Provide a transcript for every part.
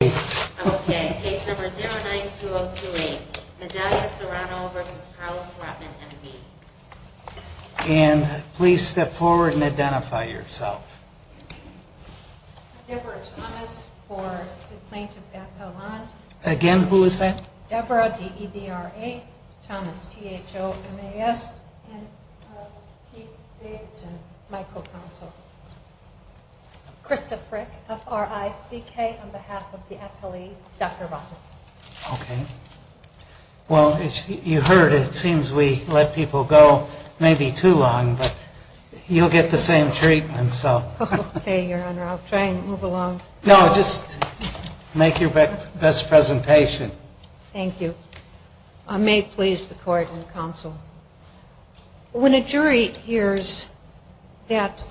09028 Medallia Serrano v. Carlos Rotman M.D. Deborah Thomas, Debra D.E.B.R.A. Thomas, T.H.O. M.A.S. Pete Davidson, Michael Counsel Krista Frick, F.R.I.C.K. On behalf of the F.L.E., Dr. Rotman Well, you heard it. It seems we let people go maybe too long, but you'll get the same treatment. Okay, Your Honor. I'll try and move along. No, just make your best presentation. Thank you. May it please the court and counsel. When a jury hears that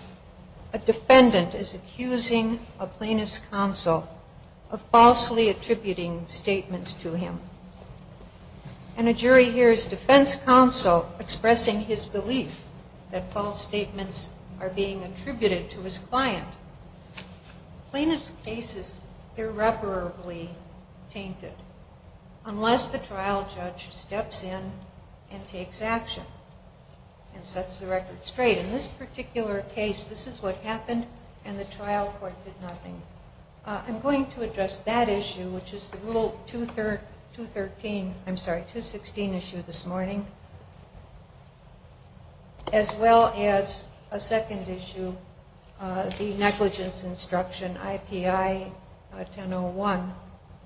a defendant is accusing a plaintiff's counsel of falsely attributing statements to him, and a jury hears defense counsel expressing his belief that false statements are being attributed to his client, plaintiff's case is irreparably tainted. Unless the trial judge steps in and takes action and sets the record straight. In this particular case, this is what happened and the trial court did nothing. I'm going to address that issue, which is the Rule 213, I'm sorry, 216 issue this morning, as well as a second issue, the negligence instruction, I.P.I. 1001,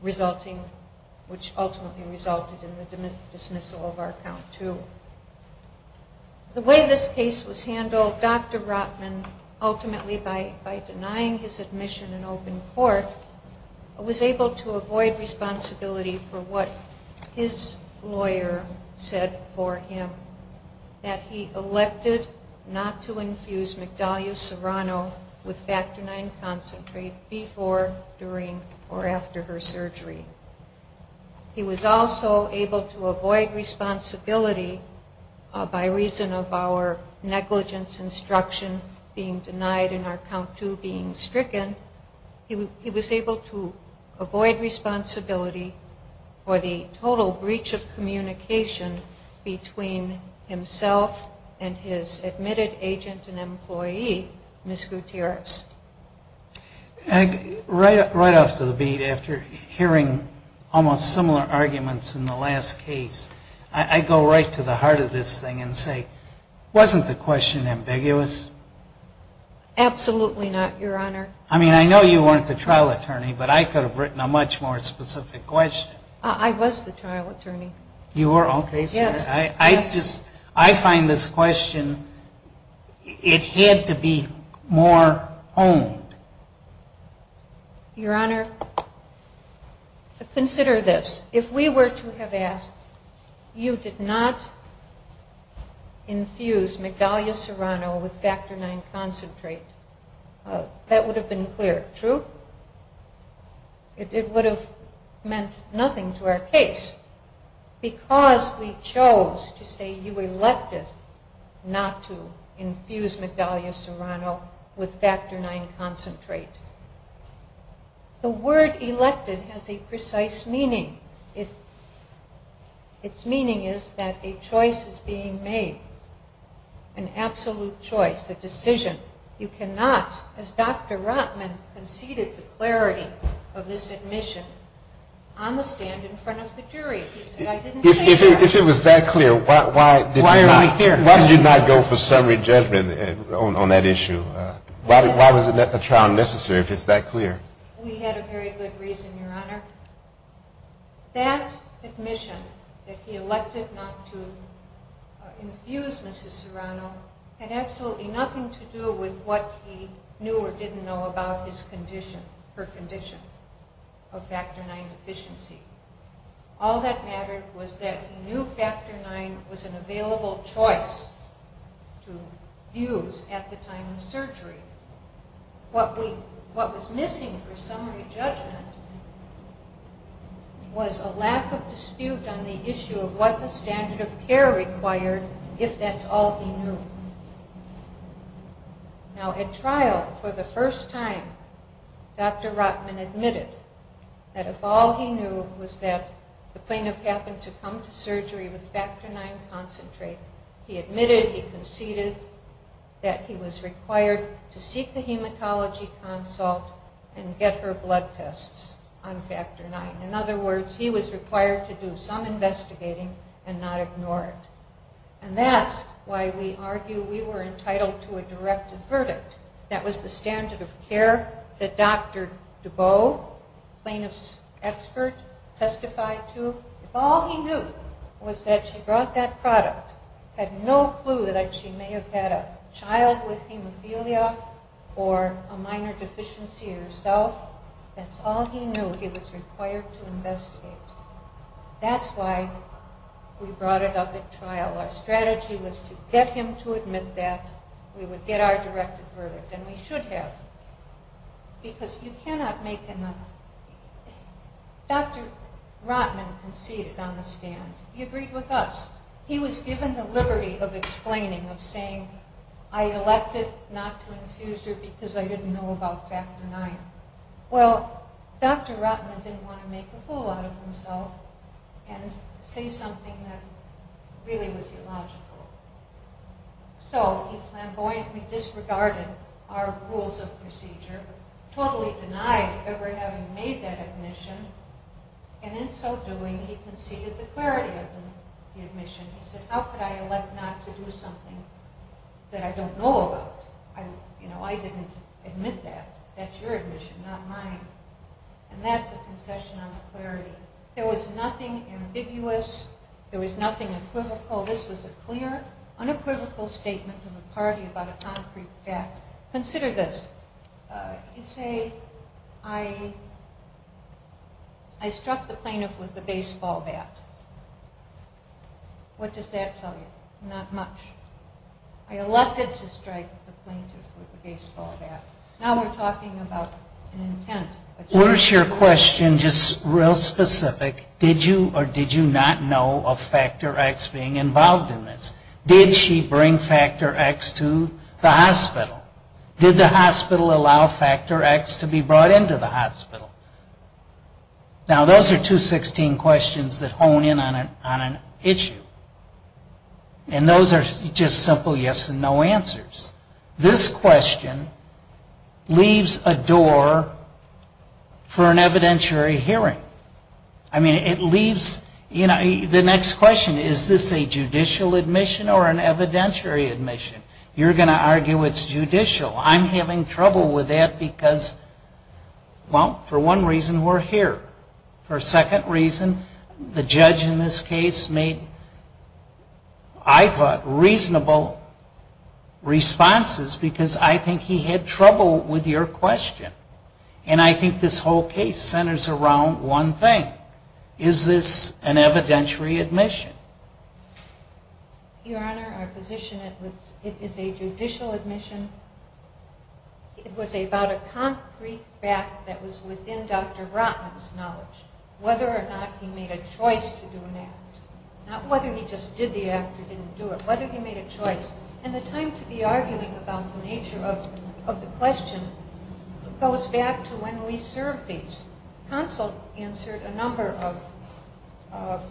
resulting, which ultimately resulted in the dismissal of our count too. The way this case was handled, Dr. Rotman, ultimately by denying his admission in open court, was able to avoid responsibility for what his lawyer said for him. That he elected not to infuse McDahlia Serrano with factor IX concentrate before, during, or after her surgery. He was also able to avoid responsibility by reason of our negligence instruction being denied and our count too being stricken. He was able to avoid responsibility for the total breach of communication between himself and his admitted agent and employee, Ms. Gutierrez. Right off the beat, after hearing almost similar arguments in the last case, I go right to the heart of this thing and say, wasn't the question ambiguous? Absolutely not, Your Honor. I mean, I know you weren't the trial attorney, but I could have written a much more specific question. I was the trial attorney. You were? Okay, sir. Yes. I just, I find this question, it had to be more honed. Your Honor, consider this. If we were to have asked, you did not infuse McDahlia Serrano with factor IX concentrate, that would have been clear, true? It would have meant nothing to our case because we chose to say you elected not to infuse McDahlia Serrano with factor IX concentrate. The word elected has a precise meaning. Its meaning is that a choice is being made, an absolute choice, a decision. You cannot, as Dr. Rotman conceded the clarity of this admission, on the stand in front of the jury. If it was that clear, why did you not go for summary judgment on that issue? Why was a trial necessary if it's that clear? We had a very good reason, Your Honor. That admission that he elected not to infuse Mrs. Serrano had absolutely nothing to do with what he knew or didn't know about his condition, her condition of factor IX deficiency. All that mattered was that he knew factor IX was an available choice to use at the time of surgery. What was missing for summary judgment was a lack of dispute on the issue of what the standard of care required, if that's all he knew. Now, at trial, for the first time, Dr. Rotman admitted that if all he knew was that the plaintiff happened to come to surgery with factor IX concentrate, he admitted, he conceded that he was required to seek the hematology consult and get her blood tests on factor IX. In other words, he was required to do some investigating and not ignore it. And that's why we argue we were entitled to a directed verdict. That was the standard of care that Dr. Dubow, plaintiff's expert, testified to. If all he knew was that she brought that product, had no clue that she may have had a child with hemophilia or a minor deficiency herself, that's all he knew, he was required to investigate. That's why we brought it up at trial. Our strategy was to get him to admit that, we would get our directed verdict, and we should have, because you cannot make another. Dr. Rotman conceded on the stand. He agreed with us. He was given the liberty of explaining, of saying, I elected not to infuse her because I didn't know about factor IX. Well, Dr. Rotman didn't want to make a fool out of himself and say something that really was illogical. So he flamboyantly disregarded our rules of procedure, totally denied ever having made that admission, and in so doing, he conceded the clarity of the admission. He said, how could I elect not to do something that I don't know about? I didn't admit that. That's your admission, not mine. And that's a concession on the clarity. There was nothing ambiguous, there was nothing equivocal. This was a clear, unequivocal statement from the party about a concrete fact. Consider this. You say, I struck the plaintiff with a baseball bat. What does that tell you? Not much. I elected to strike the plaintiff with a baseball bat. Now we're talking about an intent. Where's your question just real specific? Did you or did you not know of factor X being involved in this? Did she bring factor X to the hospital? Did the hospital allow factor X to be brought into the hospital? Now those are 216 questions that hone in on an issue. And those are just simple yes and no answers. This question leaves a door for an evidentiary hearing. I mean, it leaves, you know, the next question, is this a judicial admission or an evidentiary admission? You're going to argue it's judicial. I'm having trouble with that because, well, for one reason we're here. For a second reason, the judge in this case made, I thought, reasonable responses because I think he had trouble with your question. And I think this whole case centers around one thing. Is this an evidentiary admission? Your Honor, our position is it is a judicial admission. It was about a concrete fact that was within Dr. Rotman's knowledge, whether or not he made a choice to do an act. Not whether he just did the act or didn't do it, whether he made a choice. And the time to be arguing about the nature of the question goes back to when we served these. Counsel answered a number of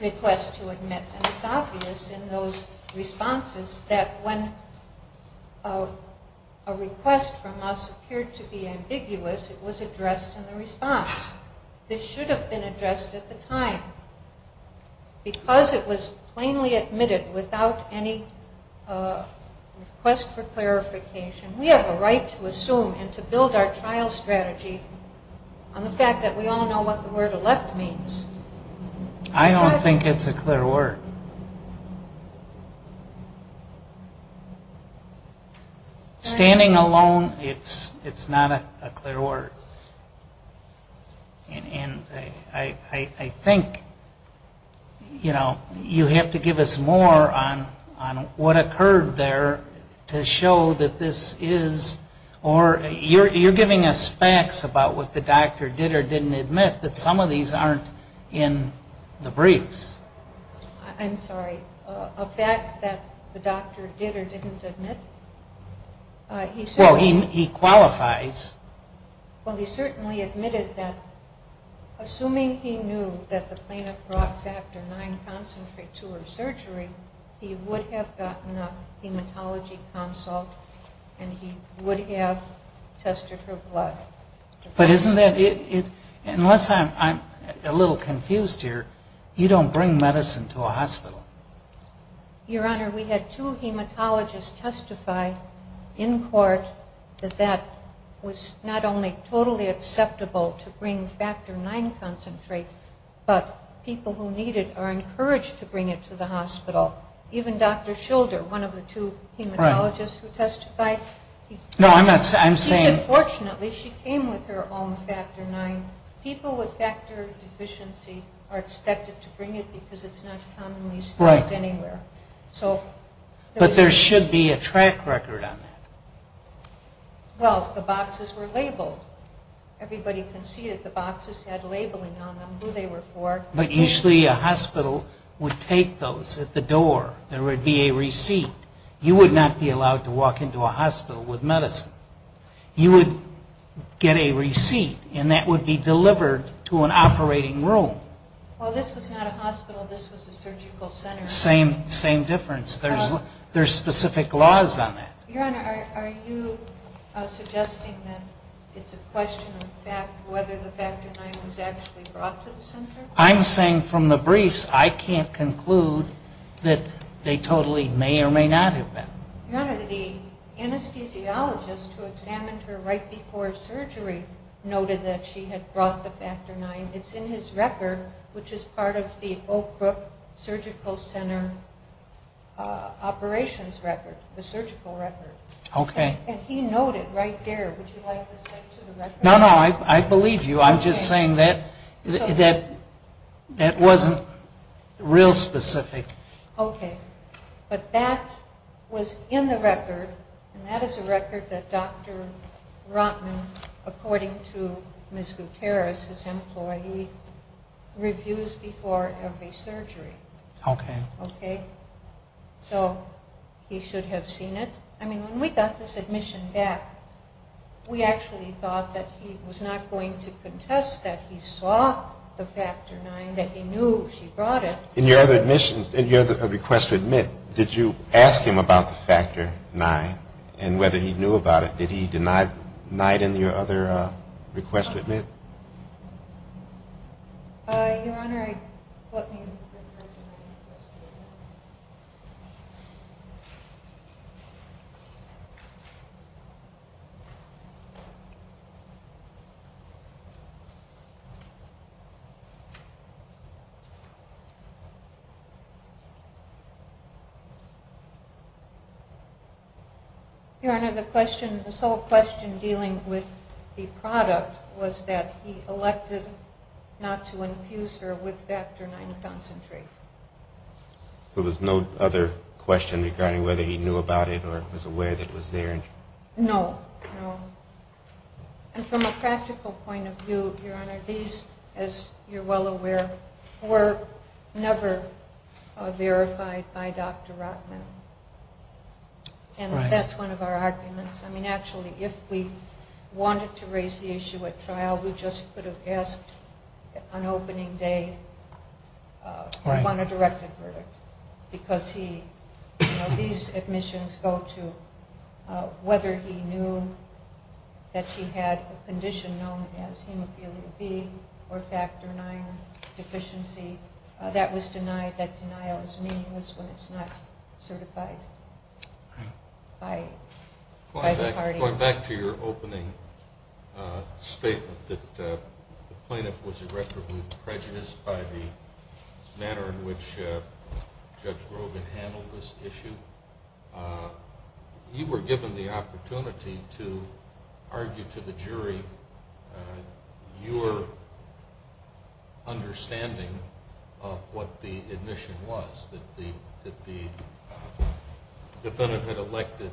requests to admit. And it's obvious in those responses that when a request from us appeared to be ambiguous, it was addressed in the response. This should have been addressed at the time. We have a right to assume and to build our trial strategy on the fact that we all know what the word elect means. I don't think it's a clear word. Standing alone, it's not a clear word. And I think, you know, you have to give us more on what a clear word is. There's a curve there to show that this is, or you're giving us facts about what the doctor did or didn't admit. But some of these aren't in the briefs. I'm sorry. A fact that the doctor did or didn't admit? Well, he qualifies. Well, he certainly admitted that assuming he knew that the plaintiff brought factor 9 concentrate to her surgery, he would have gotten a hematology consult and he would have tested her blood. But isn't that, unless I'm a little confused here, you don't bring medicine to a hospital. Your Honor, we had two hematologists testify in court that that was not only totally acceptable to bring factor 9 concentrate, but people who need it are encouraged to bring it to the hospital. Even Dr. Schilder, one of the two hematologists who testified, he said fortunately she came with her own factor 9. People with factor deficiency are expected to bring it because it's not commonly sold anywhere. But there should be a track record on that. Well, the boxes were labeled. Everybody conceded the boxes had labeling on them, who they were for. But usually a hospital would take those at the door. There would be a receipt. You would not be allowed to walk into a hospital with medicine. You would get a receipt and that would be delivered to an operating room. Well, this was not a hospital. This was a surgical center. Same difference. There's specific laws on that. Your Honor, are you suggesting that it's a question of whether the factor 9 was actually brought to the center? I'm saying from the briefs, I can't conclude that they totally may or may not have been. Your Honor, the anesthesiologist who examined her right before surgery noted that she had brought the factor 9. It's in his record, which is part of the Oak Brook Surgical Center operations record, the surgical record. Okay. And he noted right there. Would you like to say to the record? No, no. I believe you. I'm just saying that that wasn't real specific. Okay. But that was in the record and that is a record that Dr. Rotman, according to Ms. Gutierrez, his employee, reviews before every surgery. Okay. So he should have seen it. I mean, when we got this admission back, we actually thought that he was not going to contest that he saw the factor 9, that he knew she brought it. In your request to admit, did you ask him about the factor 9 and whether he knew about it? Did he deny it in your other request to admit? Your Honor, let me... Your Honor, this whole question dealing with the product was that he elected not to infuse her with factor 9 concentrate. So there's no other question regarding whether he knew about it or was aware that it was there? No, no. And from a practical point of view, Your Honor, these, as you're well aware, were never verified by Dr. Rotman. And that's one of our arguments. I mean, actually, if we wanted to raise the issue at trial, we just could have asked on opening day. He won a directed verdict because he, you know, these admissions go to whether he knew that she had a condition known as hemophilia B or factor 9 deficiency. That was denied. That denial is meaningless when it's not certified by Dr. Rotman. Going back to your opening statement that the plaintiff was irreparably prejudiced by the manner in which Judge Rogin handled this issue, you were given the opportunity to argue to the jury your understanding of what the admission was, that the defendant had elected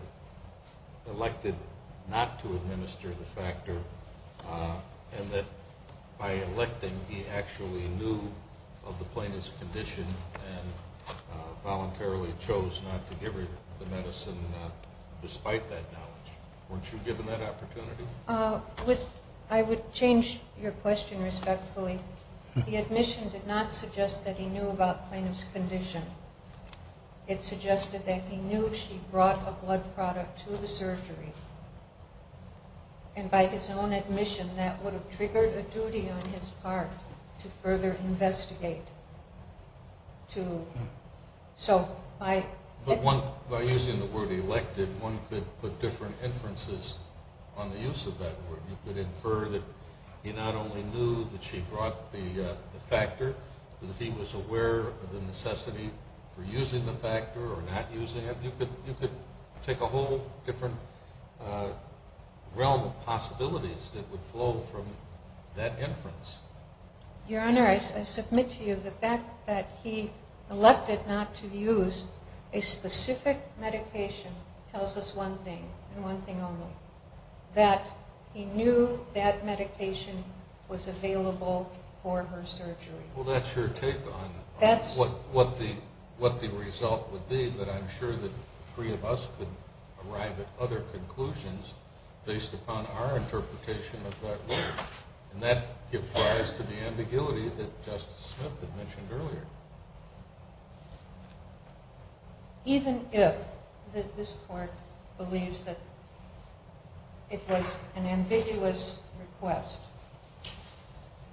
not to administer the factor and that by electing he actually knew of the plaintiff's condition and voluntarily chose not to give her the medicine despite that knowledge. Weren't you given that opportunity? I would change your question respectfully. The admission did not suggest that he knew about the plaintiff's condition. It suggested that he knew she brought a blood product to the surgery. And by his own admission, that would have triggered a duty on his part to further investigate. By using the word elected, one could put different inferences on the use of that word. You could infer that he not only knew that she brought the factor, that he was aware of the necessity for using the factor or not using it. You could take a whole different realm of possibilities that would flow from that inference. Your Honor, I submit to you the fact that he elected not to use a specific medication tells us one thing and one thing only. That he knew that medication was available for her surgery. Well, that's your take on what the result would be, but I'm sure that the three of us could arrive at other conclusions based upon our interpretation of that word. And that gives rise to the ambiguity that Justice Smith had mentioned earlier. Even if this Court believes that it was an ambiguous request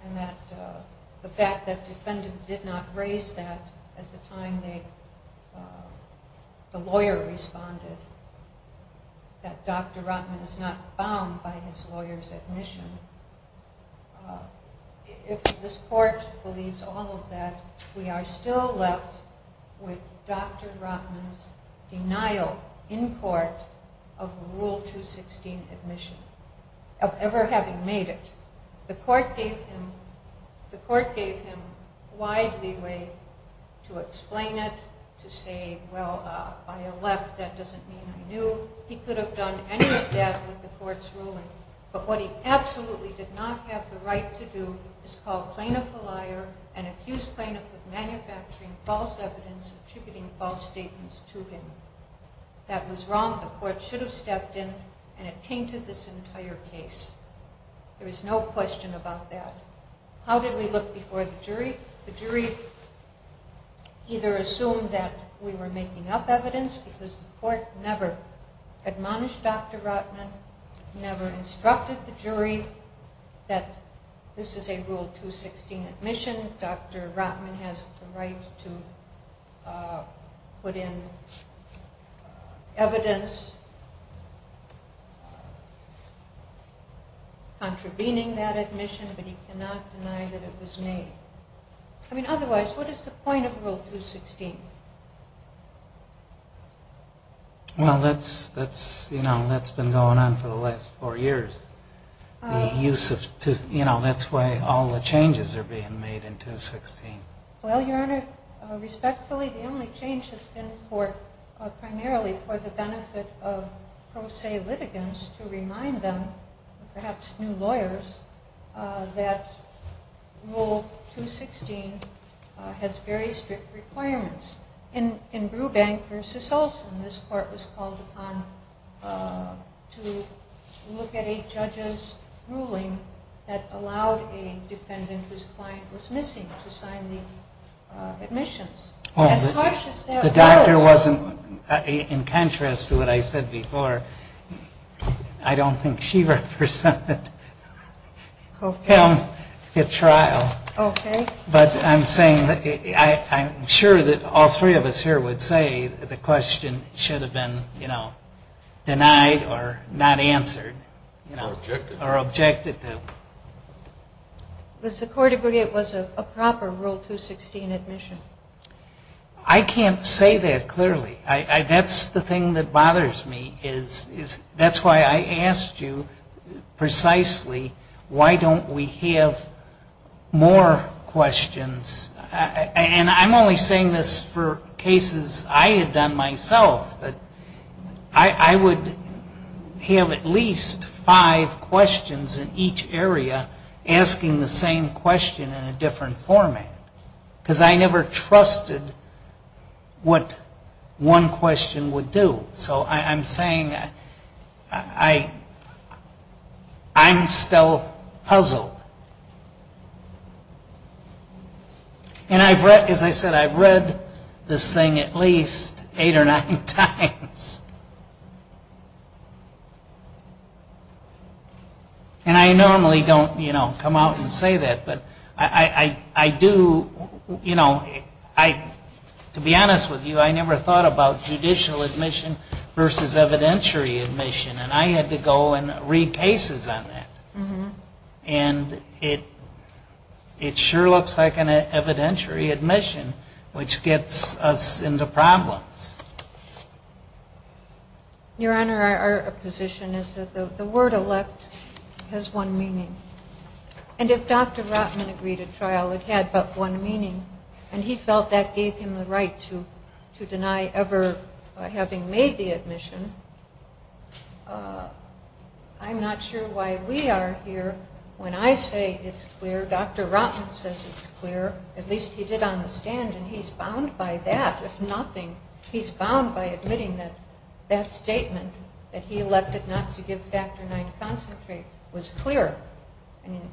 and that the fact that the defendant did not raise that at the time the lawyer responded, that Dr. Rotman is not bound by his lawyer's admission, if this Court believes all of that, we are still left with Dr. Rotman's denial in court of Rule 216 admission, of ever having made it. The Court gave him wide leeway to explain it, to say, well, I elect, that doesn't mean I knew. He could have done any of that with the Court's ruling, but what he absolutely did not have the right to do is call a plaintiff a liar and accuse plaintiffs of manufacturing false evidence attributing false statements to him. That was wrong. The Court should have stepped in and attainted this entire case. There is no question about that. How did we look before the jury? The jury either assumed that we were making up evidence, because the Court never admonished Dr. Rotman, never instructed the jury that this is a Rule 216 admission, Dr. Rotman has the right to put in evidence contravening that admission, but he cannot deny that it was made. Otherwise, what is the point of Rule 216? That's been going on for the last four years. That's why all the changes are being made in 216. Respectfully, the only change has been primarily for the benefit of pro se litigants to remind them, perhaps new lawyers, that Rule 216 has very strict requirements. In Brubank v. Olson, this Court was called upon to look at a judge's ruling that allowed a defendant whose client was missing to sign the admissions. The doctor wasn't, in contrast to what I said before, I don't think she represented him at trial. But I'm saying, I'm sure that all three of us here would say that the question should have been, you know, denied or not answered, or objected to. But the court agreed it was a proper Rule 216 admission. I can't say that clearly. That's the thing that bothers me. That's why I asked you precisely why don't we have more questions. And I'm only saying this for cases I had done myself. I would have at least five questions in each area asking the same question in a different format. Because I never trusted what one question would do. So I'm saying I'm still puzzled. And as I said, I've read this thing at least eight or nine times. And I normally don't, you know, come out and say that, but I do, you know, to be honest with you, I never thought about judicial admission versus evidentiary admission. And I had to go and read cases on that. And it sure looks like an evidentiary admission, which gets us into problems. Your Honor, our position is that the word elect has one meaning. And if Dr. Rotman agreed at trial, it had but one meaning. And he felt that gave him the right to deny ever having made the admission. I'm not sure why we are here when I say it's clear. Dr. Rotman says it's clear. At least he did on the stand. And he's bound by that. If nothing, he's bound by admitting that that statement that he elected not to give factor nine concentrate was clear.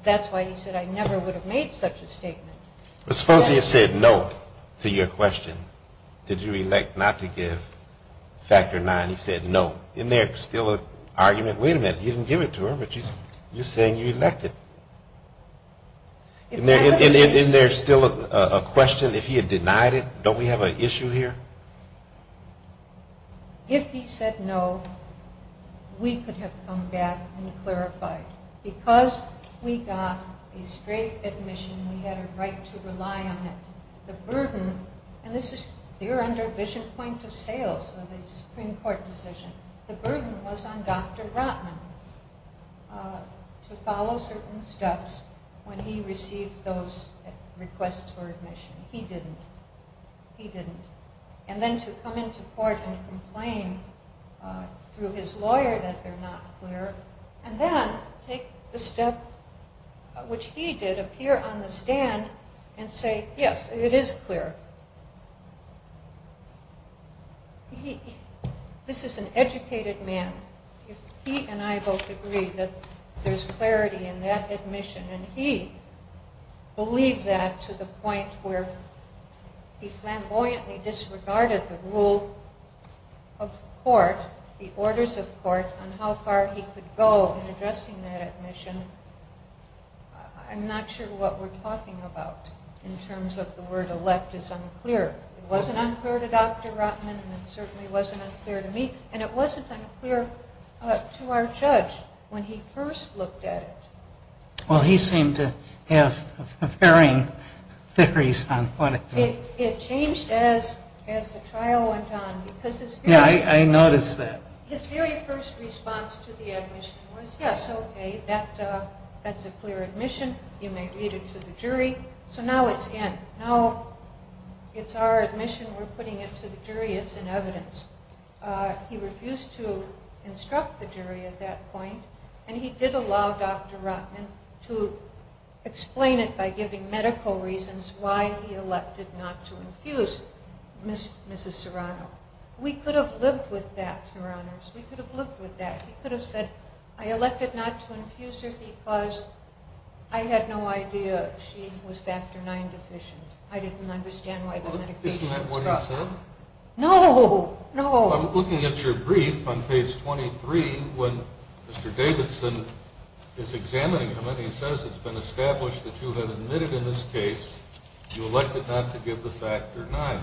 That's why he said I never would have made such a statement. Suppose he had said no to your question. Did you elect not to give factor nine? He said no. Isn't there still a question, if he had denied it, don't we have an issue here? If he said no, we could have come back and clarified. Because we got a straight admission, we had a right to rely on it. The burden, and this is clear under vision point of sales of the Supreme Court decision. The burden was on Dr. Rotman to follow certain steps when he received those requests for admission. He didn't. And then to come into court and complain through his lawyer that they're not clear. And then take the step which he did appear on the stand and say yes, it is clear. This is an educated man. If he and I both agree that there's clarity in that admission and he believed that to the point where he flamboyantly disregarded the rule of court, the orders of court, on how far he could go in addressing that admission, I'm not sure what we're talking about in terms of the word elect is unclear. It wasn't unclear to Dr. Rotman and it certainly wasn't unclear to me. And it wasn't unclear to our judge when he first looked at it. He seemed to have varying theories. It changed as the trial went on. His very first response to the admission was yes, okay, that's a clear admission, you may read it to the jury. So now it's in. Now it's our admission, we're putting it to the jury, it's in evidence. He refused to instruct the jury at that point and he did allow Dr. Rotman to explain it by giving medical reasons why he elected not to infuse Mrs. Serrano. We could have lived with that, Your Honors, we could have lived with that. He could have said I elected not to infuse her because I had no idea she was factor 9 deficient. I didn't understand why the medication was stuck. Isn't that what he said? I'm looking at your brief on page 23 when Mr. Davidson is examining him and he says it's been established that you have admitted in this case you elected not to give the factor 9.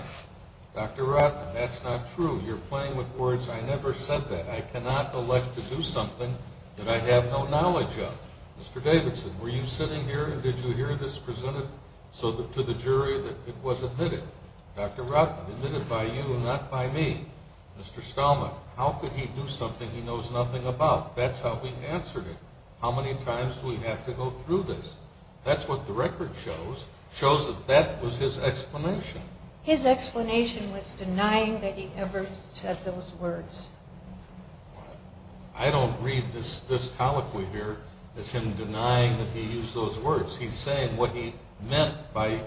Dr. Rotman, that's not true. You're playing with words. I never said that. I cannot elect to do something that I have no knowledge of. Mr. Davidson, were you sitting here and did you hear this presented to the jury that it was admitted? Dr. Rotman, admitted by you and not by me. Mr. Stalman, how could he do something he knows nothing about? That's how we answered it. How many times do we have to go through this? His explanation was denying that he ever said those words. I don't read this colloquy here as him denying that he used those words. He's saying what he meant by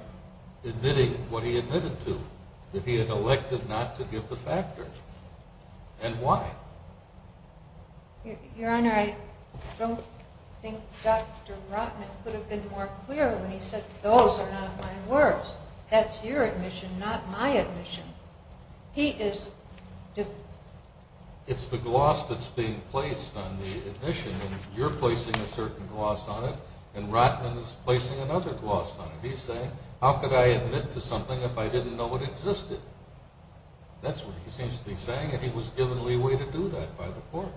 admitting what he admitted to, that he had elected not to give the factor. And why? Your Honor, I don't think Dr. Rotman could have been more clear when he said those are not my words. That's your admission, not my admission. It's the gloss that's being placed on the admission. You're placing a certain gloss on it and Rotman is placing another gloss on it. He's saying how could I admit to something if I didn't know it existed? That's what he seems to be saying and he was given leeway to do that by the court.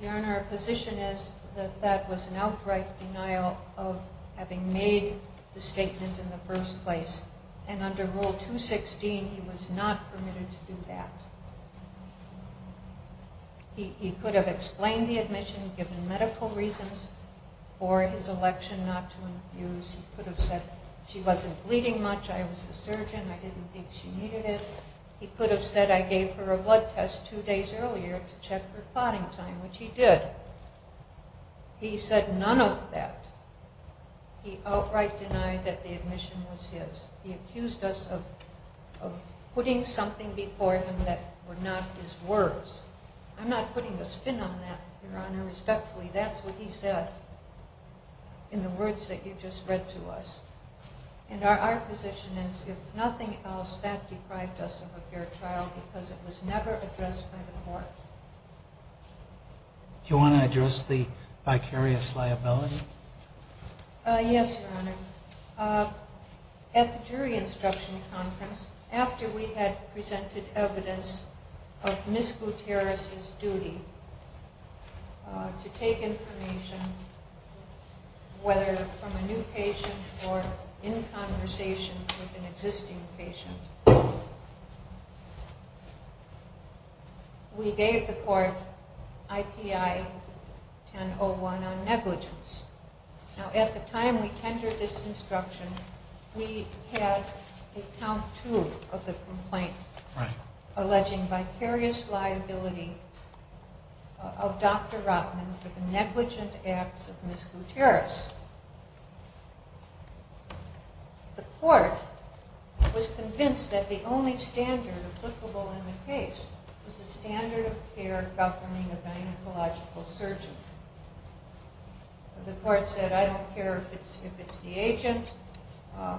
Your Honor, our position is that that was an outright denial of having made the statement in the first place. And under Rule 216, he was not permitted to do that. He could have explained the admission, given medical reasons for his election not to infuse. He could have said she wasn't bleeding much, I was the surgeon, I didn't think she needed it. He could have said I gave her a blood test two days earlier to check her clotting time, which he did. He said none of that. He outright denied that the admission was his. He accused us of putting something before him that were not his words. I'm not putting a spin on that, Your Honor. Respectfully, that's what he said in the words that you just read to us. Our position is if nothing else, that deprived us of a fair trial because it was never addressed by the court. Do you want to address the vicarious liability? Yes, Your Honor. At the jury instruction conference, after we had presented evidence of Ms. Gutierrez's duty to take information, whether from a new patient or in conversations with an existing patient, we gave the court IPI 1001 on negligence. Now, at the time we tendered this instruction, we had a count two of the complaint alleging vicarious liability of Dr. Rotman for the negligent acts of Ms. Gutierrez. The court was convinced that the only standard applicable in the case was the standard of care governing a gynecological surgeon. The court said, I don't care if it's the agent,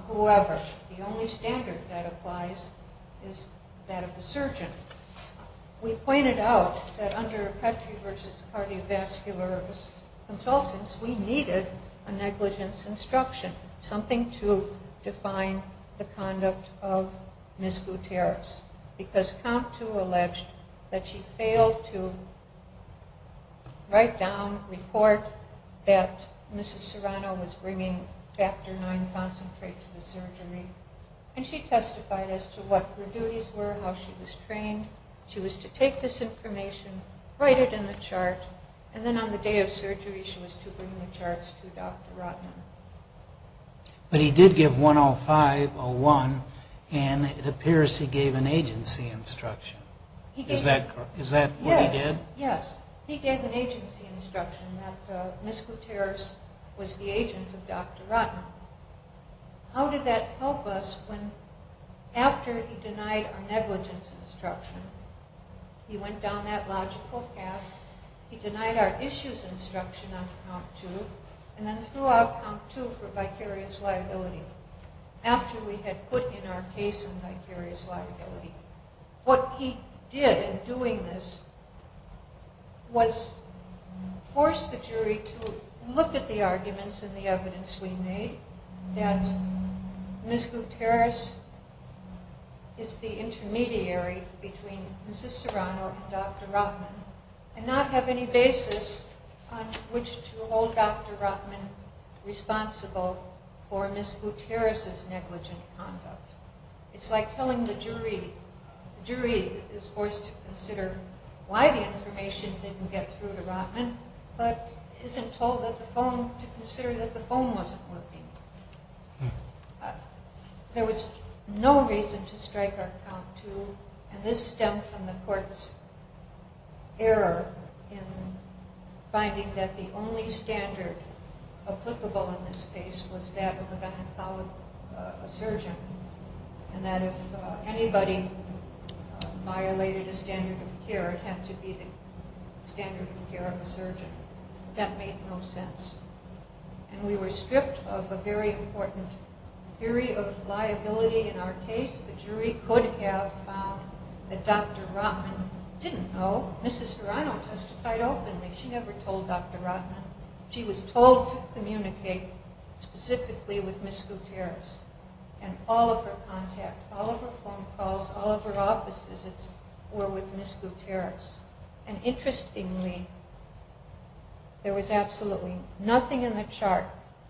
whoever. The only standard that applies is that of the surgeon. We pointed out that under Petrie v. Cardiovascular Consultants, we needed a negligence instruction, something to define the conduct of Ms. Gutierrez, because count two alleged that she failed to write down, report, that Mrs. Serrano was bringing factor IX concentrate to the surgery, and she testified as to what her duties were, how she was trained. She was to take this information, write it in the chart, and then on the day of surgery, she was to bring the charts to Dr. Rotman. But he did give 10501, and it appears he gave an agency instruction. Is that what he did? Yes. He gave an agency instruction that Ms. Gutierrez was the agent of Dr. Rotman. How did that help us when after he denied our negligence instruction, he went down that logical path, he denied our issues instruction on count two, and then threw out count two for vicarious liability, after we had put in our case a vicarious liability? What he did in doing this was force the jury to look at the arguments and the evidence we made that Ms. Gutierrez is the intermediary between Mrs. Serrano and Dr. Rotman, and not have any basis on which to hold Dr. Rotman responsible for Ms. Gutierrez's negligent conduct. It's like telling the jury. The jury is forced to consider why the information didn't get through to Rotman, but isn't told to consider that the phone wasn't working. There was no reason to strike on count two, and this stemmed from the court's error in finding that the only standard applicable in this case was that of a gynecologist, a surgeon, and that if anybody violated a standard of care, it had to be the standard of care of a surgeon. That made no sense. And we were stripped of a very important theory of liability in our case. The jury could have found that Dr. Rotman didn't know. Mrs. Serrano testified openly. She never told Dr. Rotman. She was told to communicate specifically with Ms. Gutierrez, and all of her contact, all of her phone calls, all of her office visits were with Ms. Gutierrez. And interestingly, there was absolutely nothing in the chart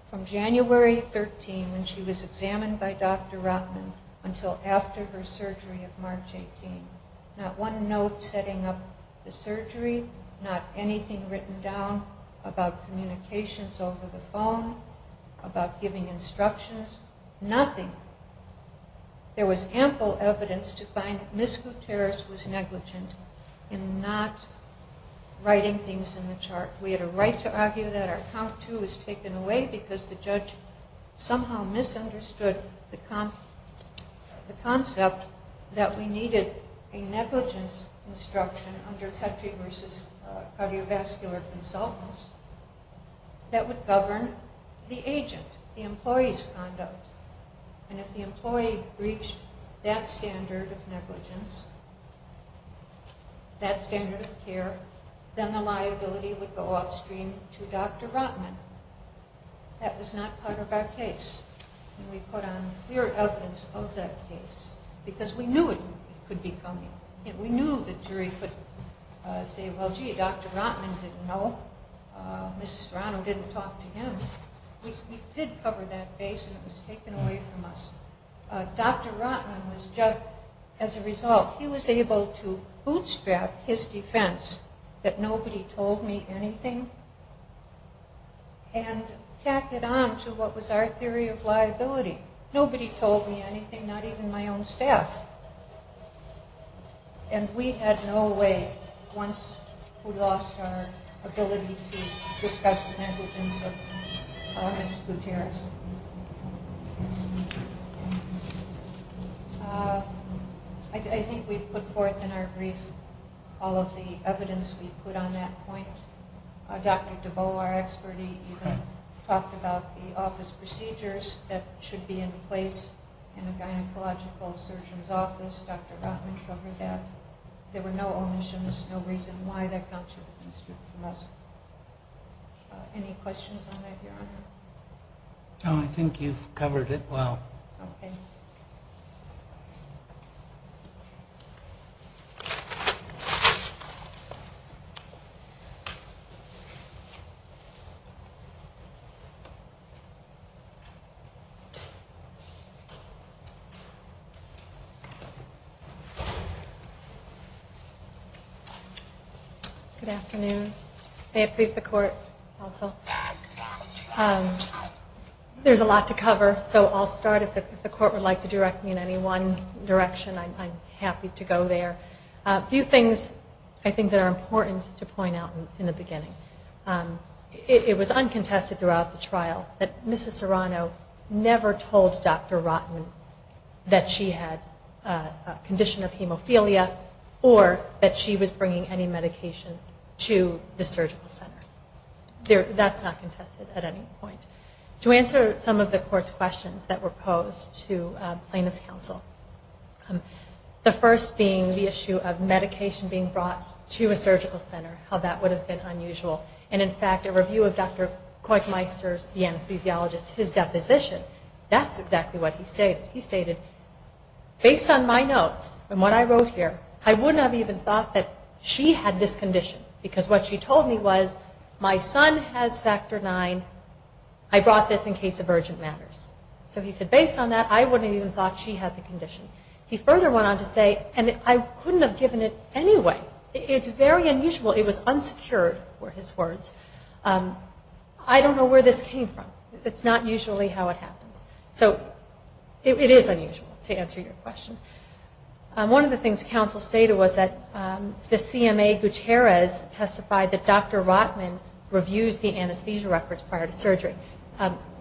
from January 13, when she was examined by Dr. Rotman, until after her surgery of March 18. Not one note setting up the surgery, not anything written down about communications over the phone, about giving instructions, nothing. There was ample evidence to find that Ms. Gutierrez was negligent in not writing things in the chart. We had a right to argue that our count two was taken away because the judge somehow misunderstood the concept that we needed a negligence instruction under country versus cardiovascular consultants that would govern the agent, the employee's conduct. And if the employee reached that standard of negligence, that standard of care, then the liability would go upstream to Dr. Rotman. That was not part of our case. And we put on clear evidence of that case because we knew it could be coming. We knew the jury could say, well, gee, Dr. Rotman didn't know. Mrs. Rano didn't talk to him. We did cover that case and it was taken away from us. Dr. Rotman was judged as a result. He was able to bootstrap his defense that nobody told me anything and tack it on to what was our theory of liability. Nobody told me anything, not even my own staff. And we had no way, once we lost our ability to discuss negligence of August Gutierrez. I think we put forth in our brief all of the evidence we put on that point. Dr. DeBow, our expert, even talked about the office procedures that should be in place in a gynecological surgeon's office. Dr. Rotman covered that. There were no omissions, no reason why that count should have been stripped from us. Any questions on that, Your Honor? No, I think you've covered it well. Okay. Good afternoon. May it please the Court also. There's a lot to cover, so I'll start. If the Court would like to direct me in any one direction, I'm happy to go there. A few things I think that are important to point out in the beginning. It was uncontested throughout the trial that Mrs. Rano never told Dr. Rotman that she had a condition of hemophilia or that she was bringing any medication to the surgical center. That's not contested at any point. To answer some of the Court's questions that were posed to plaintiff's counsel, the first being the issue of medication being brought to a surgical center, how that would have been unusual. And in fact, a review of Dr. Koichmeister's, the anesthesiologist, his deposition, that's exactly what he stated. He stated, based on my notes and what I wrote here, I wouldn't have even thought that she had this condition because what she told me was my son has Factor IX. I brought this in case of urgent matters. So he said, based on that, I wouldn't have even thought she had the condition. He further went on to say, and I couldn't have given it anyway. It's very unusual. It was unsecured were his words. I don't know where this came from. It's not usually how it happens. So it is unusual, to answer your question. One of the things counsel stated was that the CMA Gutierrez testified that Dr. Rotman reviews the anesthesia records prior to surgery.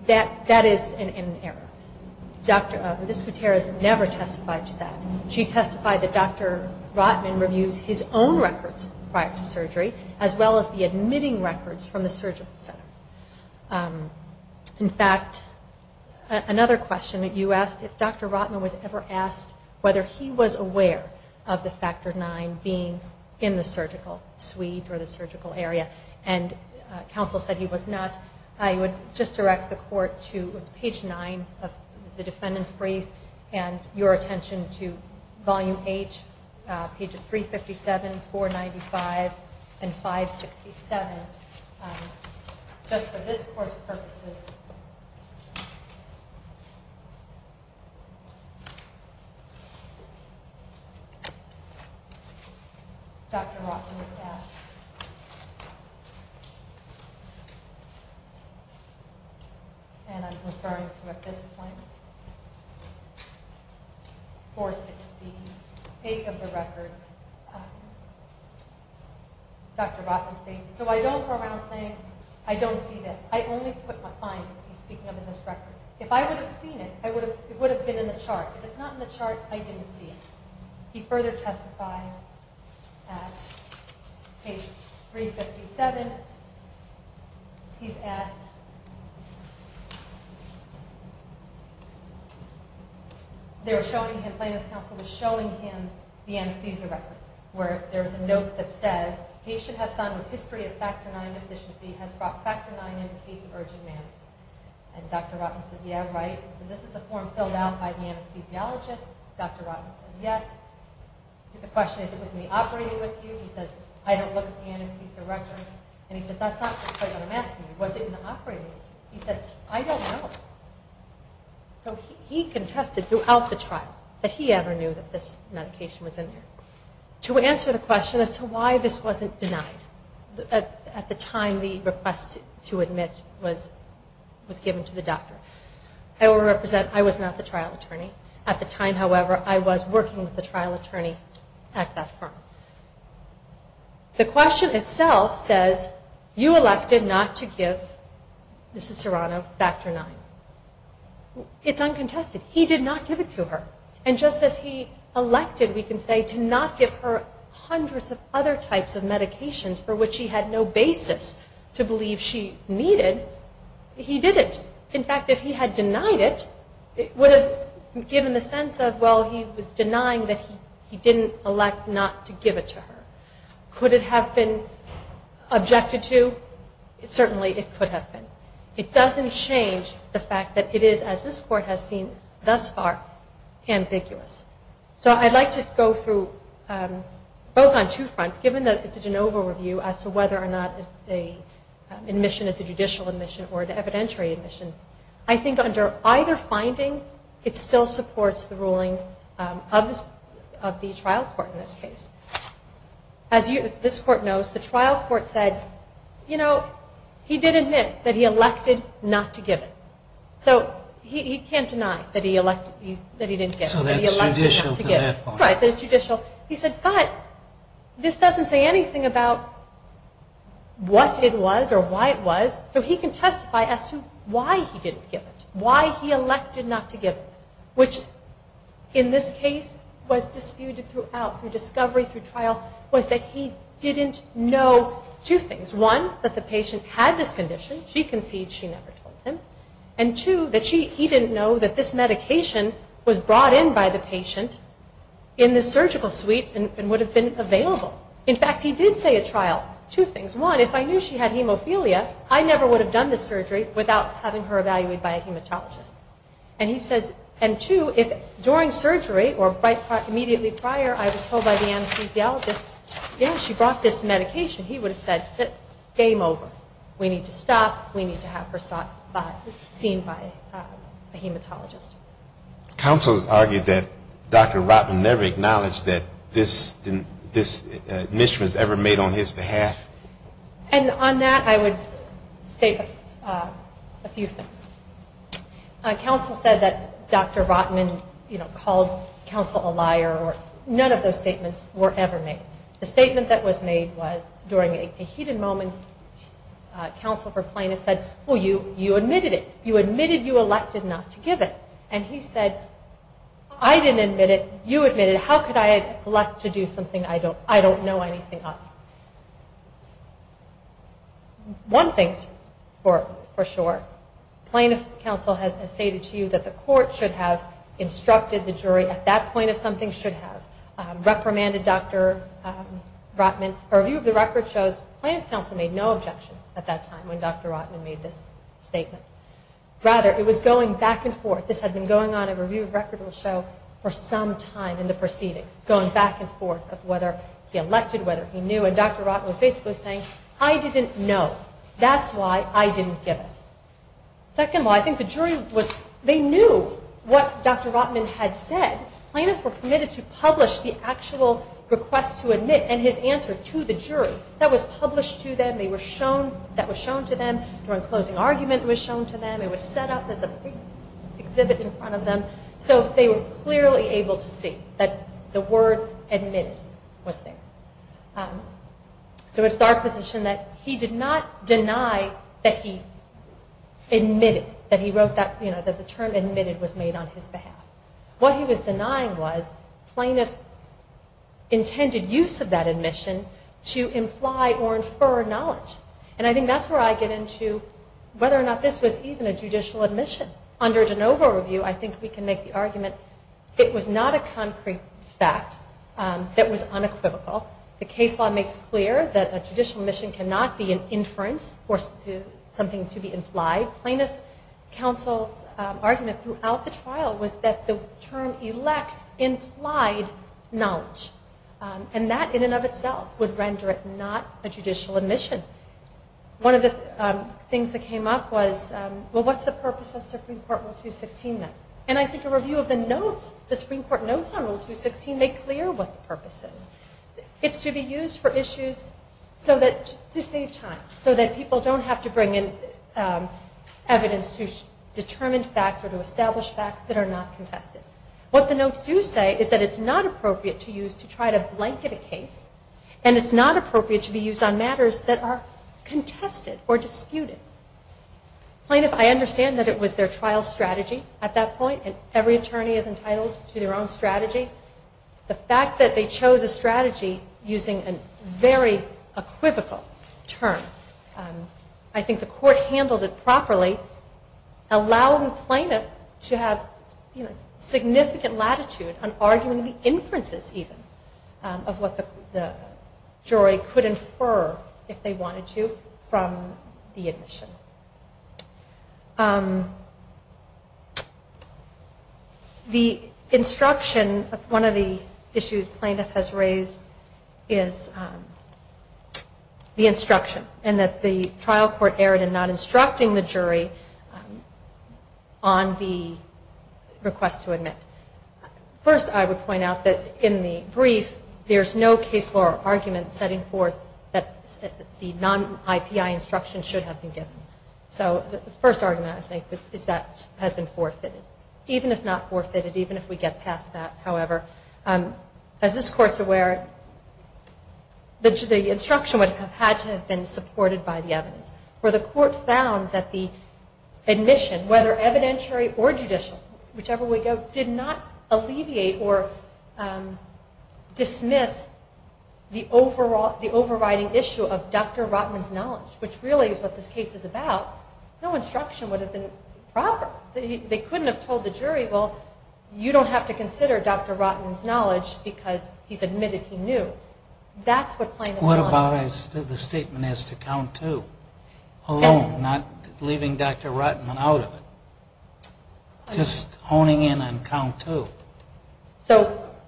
That is an error. Ms. Gutierrez never testified to that. She testified that Dr. Rotman reviews his own records prior to surgery, as well as the admitting records from the surgical center. In fact, another question that you asked, if Dr. Rotman was ever asked whether he was aware of the Factor IX being in the surgical suite or the surgical area, and counsel said he was not, I would just direct the court to page 9 of the defendant's brief and your attention to volume H, pages 357, 495, and 567. Just for this court's purposes. Dr. Rotman was asked. And I'm referring to at this point, 460, 8 of the record. Dr. Rotman states, so I don't go around saying I don't see this. I only put my findings, he's speaking of in his records. If I would have seen it, it would have been in the chart. If it's not in the chart, I didn't see it. He further testified at page 357. He's asked, they were showing him, Plaintiff's counsel was showing him the anesthesia records, where there's a note that says, patient has signed with history of Factor IX deficiency, has brought Factor IX in in case of urgent matters. And Dr. Rotman says, yeah, right. So this is a form filled out by the anesthesiologist. Dr. Rotman says, yes. The question is, was he operating with you? He says, I don't look at the anesthesia records. And he says, that's not what I'm asking you. Was it in the operating room? He said, I don't know. So he contested throughout the trial, that he ever knew that this medication was in there. To answer the question as to why this wasn't denied, at the time the request to admit was given to the doctor. I will represent, I was not the trial attorney. At the time, however, I was working with the trial attorney at that firm. The question itself says, you elected not to give Mrs. Serrano Factor IX. It's uncontested. He did not give it to her. And just as he elected, we can say, to not give her hundreds of other types of medications, for which she had no basis to believe she needed, he didn't. In fact, if he had denied it, it would have given the sense of, well, he was denying that he didn't elect not to give it to her. Could it have been objected to? Certainly it could have been. It doesn't change the fact that it is, as this Court has seen thus far, ambiguous. So I'd like to go through, both on two fronts, given that it's a de novo review as to whether or not an admission is a I think under either finding, it still supports the ruling of the trial court in this case. As this Court knows, the trial court said, you know, he did admit that he elected not to give it. So he can't deny that he didn't give it. So that's judicial to that point. Right, that it's judicial. He said, but this doesn't say anything about what it was or why it was. So he can testify as to why he didn't give it, why he elected not to give it, which in this case was disputed throughout through discovery, through trial, was that he didn't know two things. One, that the patient had this condition. She conceded. She never told him. And two, that he didn't know that this medication was brought in by the patient in the surgical suite and would have been available. In fact, he did say at trial two things. One, if I knew she had hemophilia, I never would have done the surgery without having her evaluated by a hematologist. And he says, and two, if during surgery or immediately prior, I was told by the anesthesiologist, you know, she brought this medication, he would have said, game over. We need to stop. We need to have her seen by a hematologist. Counsel has argued that Dr. Rotman never acknowledged that this was ever made on his behalf. And on that I would state a few things. Counsel said that Dr. Rotman, you know, called counsel a liar. None of those statements were ever made. The statement that was made was during a heated moment. Counsel for plaintiffs said, well, you admitted it. You admitted you elected not to give it. And he said, I didn't admit it. You admitted it. How could I elect to do something I don't know anything of? One thing's for sure. Plaintiff's counsel has stated to you that the court should have instructed the jury at that point if something should have. Reprimanded Dr. Rotman. A review of the record shows plaintiff's counsel made no objection at that time when Dr. Rotman made this statement. Rather, it was going back and forth. This had been going on a review of record will show for some time in the proceedings, going back and forth of whether he elected, whether he knew. And Dr. Rotman was basically saying, I didn't know. That's why I didn't give it. Second of all, I think the jury was, they knew what Dr. Rotman had said. Plaintiffs were permitted to publish the actual request to admit and his answer to the jury. That was published to them. They were shown, that was shown to them. During closing argument it was shown to them. It was set up as a big exhibit in front of them. So they were clearly able to see that the word admitted was there. So it's our position that he did not deny that he admitted, that he wrote that the term admitted was made on his behalf. What he was denying was plaintiff's intended use of that admission to imply or infer knowledge. And I think that's where I get into whether or not this was even a judicial admission. Under a de novo review I think we can make the argument it was not a concrete fact that was unequivocal. The case law makes clear that a judicial admission cannot be an inference or something to be implied. Plaintiff's counsel's argument throughout the trial was that the term elect implied knowledge. And that in and of itself would render it not a judicial admission. One of the things that came up was, well what's the purpose of Supreme Court Rule 216 then? And I think a review of the notes, the Supreme Court notes on Rule 216 make clear what the purpose is. It's to be used for issues to save time, so that people don't have to bring in evidence to determine facts or to establish facts that are not contested. What the notes do say is that it's not appropriate to use to try to blanket a case and it's not appropriate to be used on matters that are contested or disputed. Plaintiff, I understand that it was their trial strategy at that point and every attorney is entitled to their own strategy. The fact that they chose a strategy using a very equivocal term, I think the court handled it properly, allowing plaintiff to have significant latitude on arguing the inferences even of what the jury could infer if they wanted to from the admission. The instruction of one of the issues plaintiff has raised is the instruction and that the trial court erred in not instructing the jury on the request to admit. First, I would point out that in the brief, there's no case law argument setting forth that the non-IPI instruction should have been given. So the first argument I would make is that has been forfeited, even if not forfeited, even if we get past that, however. As this court's aware, the instruction would have had to have been supported by the evidence. Where the court found that the admission, whether evidentiary or judicial, whichever way you go, did not alleviate or dismiss the overriding issue of Dr. Rotman's knowledge, which really is what this case is about, no instruction would have been proper. They couldn't have told the jury, well, you don't have to consider Dr. Rotman's knowledge because he's admitted he knew. That's what plaintiffs want. What about the statement as to count two alone, not leaving Dr. Rotman out of it, just honing in on count two,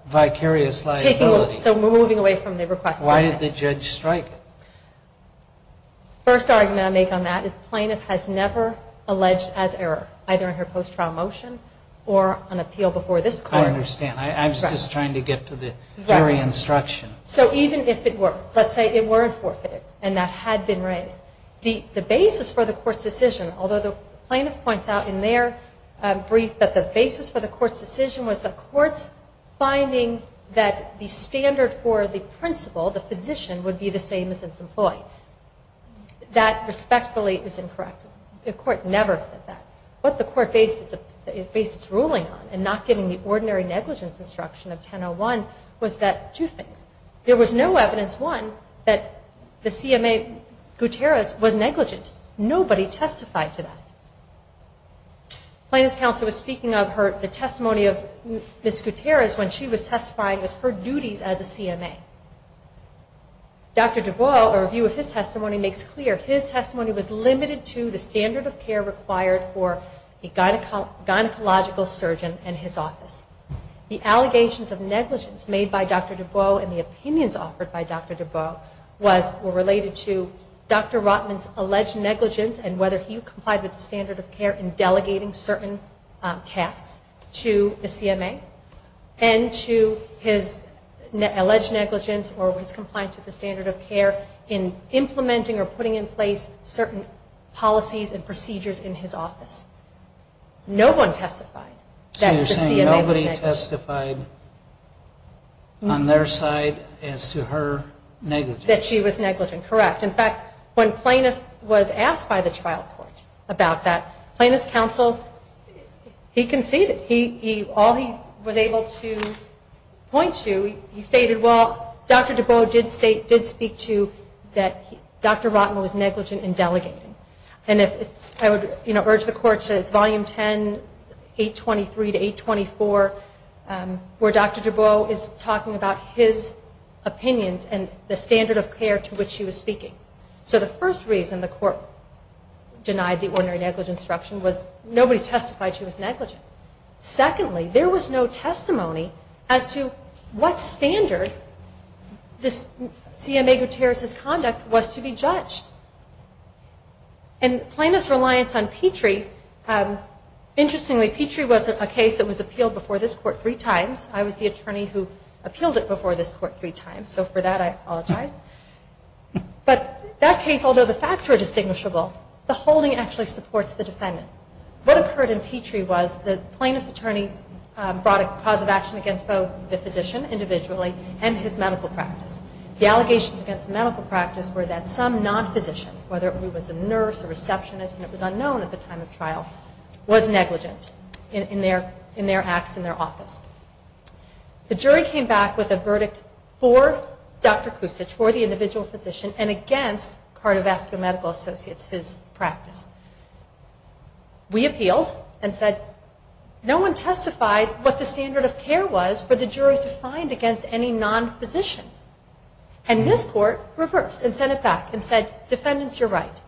vicarious liability. So we're moving away from the request. Why did the judge strike it? First argument I make on that is plaintiff has never alleged as error, either in her post-trial motion or on appeal before this court. I understand. I was just trying to get to the jury instruction. So even if it were, let's say it weren't forfeited and that had been raised, the basis for the court's decision, although the plaintiff points out in their brief that the basis for the court's decision was the court's finding that the standard for the principal, the physician, would be the same as its employee. That respectfully is incorrect. The court never said that. What the court based its ruling on in not giving the ordinary negligence instruction of 1001 was that two things. There was no evidence, one, that the CMA Gutierrez was negligent. Nobody testified to that. Plaintiff's counsel was speaking of the testimony of Ms. Gutierrez when she was testifying as her duties as a CMA. Dr. Dubois, a review of his testimony, makes clear his testimony was limited to the standard of care required for a gynecological surgeon and his office. The allegations of negligence made by Dr. Dubois and the opinions offered by Dr. Dubois were related to Dr. Rotman's alleged negligence and whether he complied with the standard of care in delegating certain tasks to the CMA. And to his alleged negligence or his compliance with the standard of care in implementing or putting in place certain policies and procedures in his office. No one testified that the CMA was negligent. So you're saying nobody testified on their side as to her negligence. That she was negligent, correct. In fact, when plaintiff was asked by the trial court about that, plaintiff's counsel, he conceded. All he was able to point to, he stated, well, Dr. Dubois did speak to that Dr. Rotman was negligent in delegating. And I would urge the court, it's volume 10, 823 to 824, where Dr. Dubois is talking about his opinions and the standard of care to which he was speaking. So the first reason the court denied the ordinary negligence instruction was nobody testified she was negligent. Secondly, there was no testimony as to what standard this CMA Gutierrez's conduct was to be judged. And plaintiff's reliance on Petrie, interestingly Petrie was a case that was appealed before this court three times. I was the attorney who appealed it before this court three times, so for that I apologize. But that case, although the facts were distinguishable, the holding actually supports the defendant. What occurred in Petrie was the plaintiff's attorney brought a cause of action against both the physician individually and his medical practice. The allegations against the medical practice were that some non-physician, whether it was a nurse, a receptionist, and it was unknown at the time of trial, was negligent in their acts in their office. The jury came back with a verdict for Dr. Kucich, for the individual physician, and against cardiovascular medical associates, his practice. We appealed and said no one testified what the standard of care was for the jury to find against any non-physician. And this court reversed and sent it back and said, defendants you're right,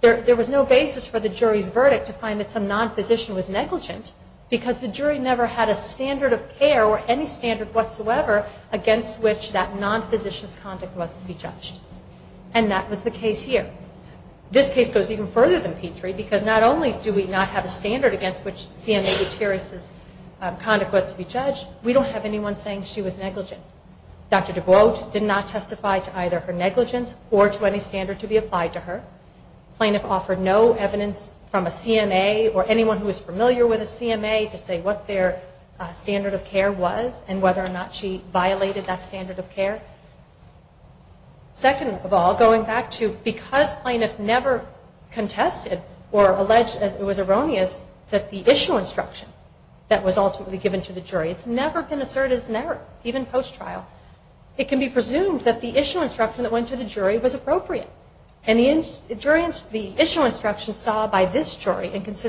there was no basis for the jury's verdict to find that some non-physician was negligent because the jury never had a standard of care or any standard whatsoever against which that non-physician's conduct was to be judged. And that was the case here. This case goes even further than Petrie because not only do we not have a standard against which CMA Gutierrez's conduct was to be judged, we don't have anyone saying she was negligent. Dr. DuBois did not testify to either her negligence or to any standard to be applied to her. The plaintiff offered no evidence from a CMA or anyone who is familiar with a CMA to say what their standard of care was and whether or not she violated that standard of care. Second of all, going back to because plaintiff never contested or alleged, as it was erroneous, that the issue instruction that was ultimately given to the jury, it's never been asserted, even post-trial, it can be presumed that the issue instruction that went to the jury was appropriate. The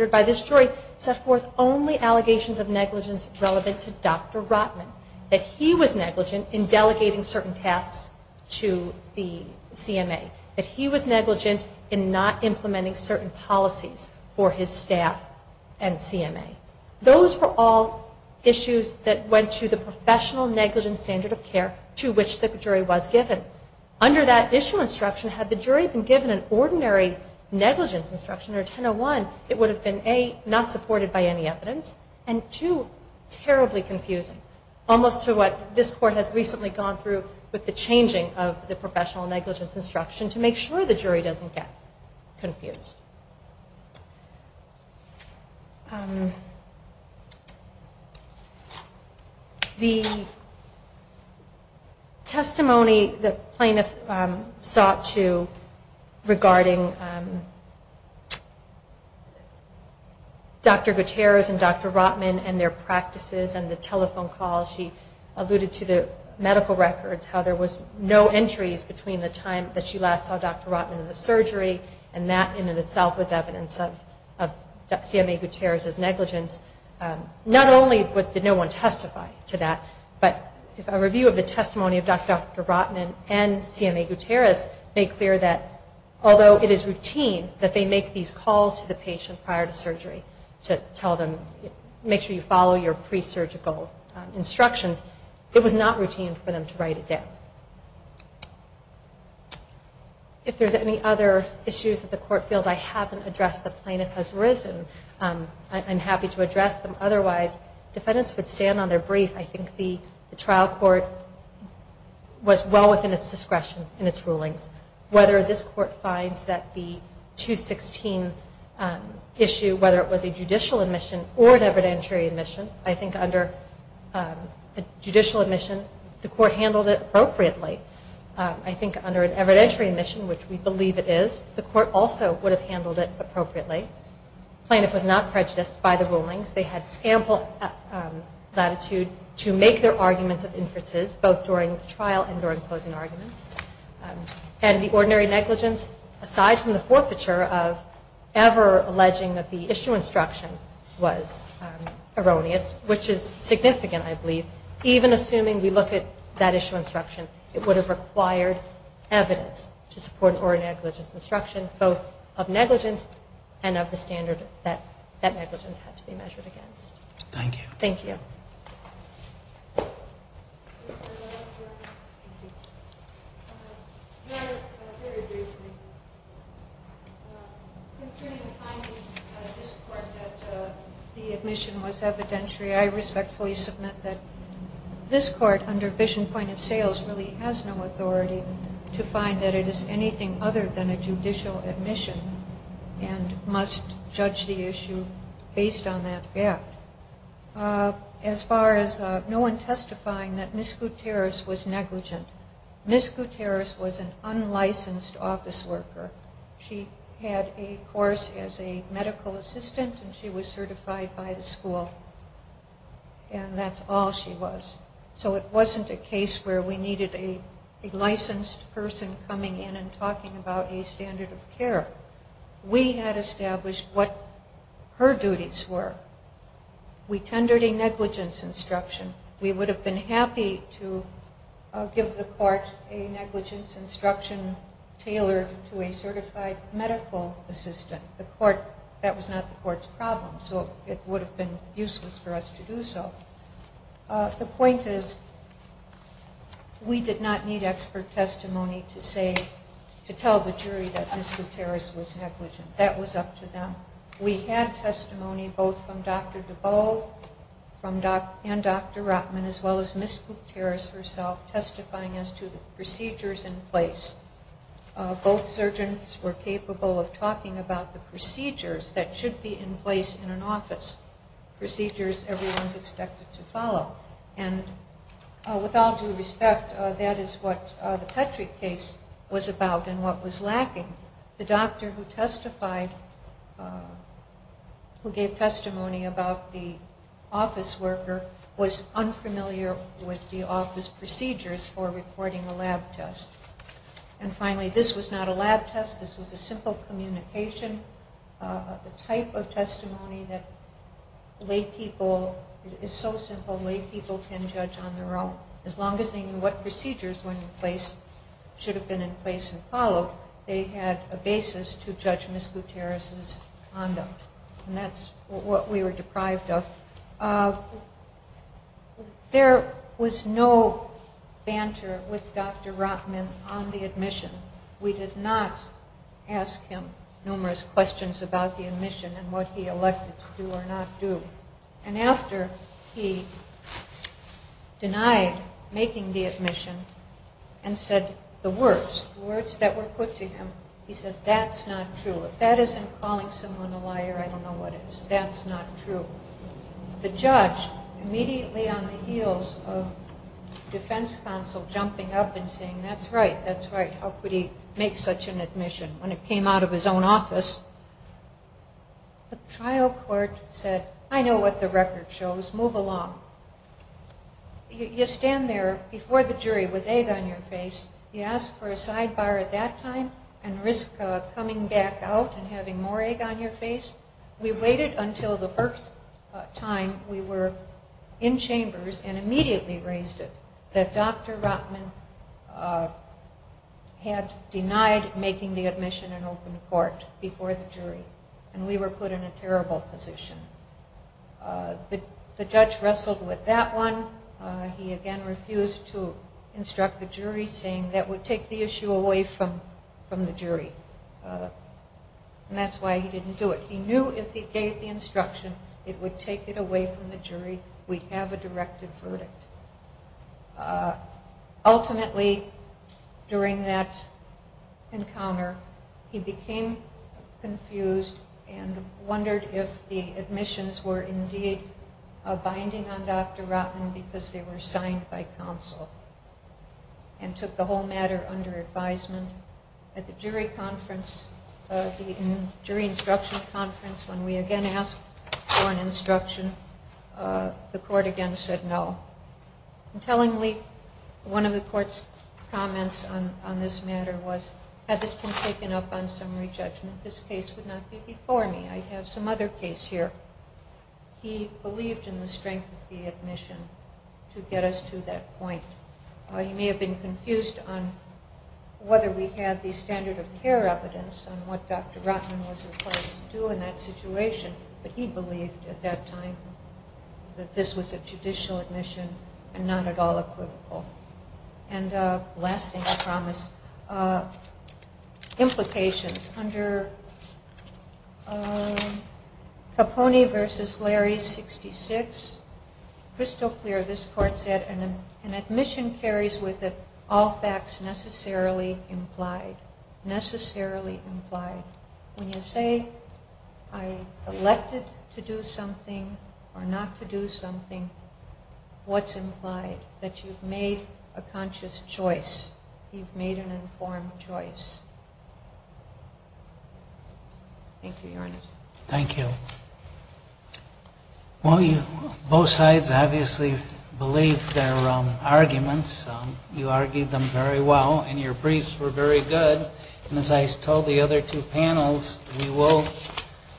jury set forth only allegations of negligence relevant to Dr. Rotman, that he was negligent in delegating certain tasks to the CMA, that he was negligent in not implementing certain policies for his staff and CMA. Those were all issues that went to the professional negligence standard of care to which the jury was given. Under that issue instruction, had the jury been given an ordinary negligence instruction or 1001, it would have been, A, not supported by any evidence, and two, terribly confusing, almost to what this court has recently gone through with the changing of the professional negligence instruction to make sure the jury doesn't get confused. The testimony the plaintiff sought to regarding Dr. Gutierrez and Dr. Rotman and their practices and the telephone calls, she alluded to the medical records, how there was no entries between the time that she last saw Dr. Rotman and the surgery and that in and of itself was evidence of CMA Gutierrez's negligence. Not only did no one testify to that, but a review of the testimony of Dr. Rotman and CMA Gutierrez made clear that, although it is routine that they make these calls to the patient prior to surgery to make sure you follow your pre-surgical instructions, it was not routine for them to write it down. If there's any other issues that the court feels I haven't addressed, the plaintiff has risen, I'm happy to address them. Otherwise, defendants would stand on their brief. I think the trial court was well within its discretion in its rulings. Whether this court finds that the 216 issue, whether it was a judicial admission or an evidentiary admission, I think under a judicial admission the court handled it appropriately. I think under an evidentiary admission, which we believe it is, the court also would have handled it appropriately. The plaintiff was not prejudiced by the rulings. They had ample latitude to make their arguments of inferences, both during the trial and during closing arguments. And the ordinary negligence, aside from the forfeiture of ever alleging that the issue instruction was erroneous, which is significant, I believe, even assuming we look at that issue instruction, it would have required evidence to support an ordinary negligence instruction, both of negligence and of the standard that negligence had to be measured against. Thank you. Thank you. Very briefly, considering the finding of this court that the admission was evidentiary, I respectfully submit that this court, under vision point of sales, really has no authority to find that it is anything other than a judicial admission and must judge the issue based on that fact. As far as no one testifying that Ms. Gutierrez was negligent, Ms. Gutierrez was an unlicensed office worker. She had a course as a medical assistant, and she was certified by the school, and that's all she was. So it wasn't a case where we needed a licensed person coming in and talking about a standard of care. We had established what her duties were. We tendered a negligence instruction. We would have been happy to give the court a negligence instruction tailored to a certified medical assistant. That was not the court's problem, so it would have been useless for us to do so. The point is we did not need expert testimony to tell the jury that Ms. Gutierrez was negligent. That was up to them. We had testimony both from Dr. DeBow and Dr. Rotman, as well as Ms. Gutierrez herself, testifying as to the procedures in place. Both surgeons were capable of talking about the procedures that should be in place in an office, procedures everyone is expected to follow. And with all due respect, that is what the Petrick case was about and what was lacking. The doctor who testified, who gave testimony about the office worker, was unfamiliar with the office procedures for reporting a lab test. And finally, this was not a lab test. This was a simple communication of the type of testimony that lay people, it is so simple, lay people can judge on their own. As long as they knew what procedures should have been in place and followed, they had a basis to judge Ms. Gutierrez's conduct. And that's what we were deprived of. There was no banter with Dr. Rotman on the admission. We did not ask him numerous questions about the admission and what he elected to do or not do. And after he denied making the admission and said the words, the words that were put to him, he said, that's not true. If that isn't calling someone a liar, I don't know what is. That's not true. The judge, immediately on the heels of defense counsel, jumping up and saying, that's right, that's right, how could he make such an admission when it came out of his own office? The trial court said, I know what the record shows. Move along. You stand there before the jury with egg on your face. You ask for a sidebar at that time and risk coming back out and having more egg on your face. We waited until the first time we were in chambers and immediately raised it that Dr. Rotman had denied making the admission and opened court before the jury. And we were put in a terrible position. The judge wrestled with that one. He, again, refused to instruct the jury, saying that would take the issue away from the jury. And that's why he didn't do it. He knew if he gave the instruction, it would take it away from the jury. We'd have a directed verdict. Ultimately, during that encounter, he became confused and wondered if the admissions were indeed binding on Dr. Rotman because they were signed by counsel and took the whole matter under advisement. At the jury conference, the jury instruction conference, when we again asked for an instruction, the court again said no. Tellingly, one of the court's comments on this matter was, had this been taken up on summary judgment, this case would not be before me. I have some other case here. He believed in the strength of the admission to get us to that point. He may have been confused on whether we had the standard of care evidence on what Dr. Rotman was required to do in that situation, but he believed at that time that this was a judicial admission and not at all equivocal. And last thing I promise, implications. Under Capone v. Larry 66, crystal clear, this court said, an admission carries with it all facts necessarily implied. Necessarily implied. When you say I elected to do something or not to do something, what's implied? That you've made a conscious choice. You've made an informed choice. Thank you, Your Honor. Thank you. Well, both sides obviously believed their arguments. You argued them very well, and your briefs were very good. And as I told the other two panels, we will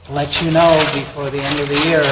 let you know before the end of the year.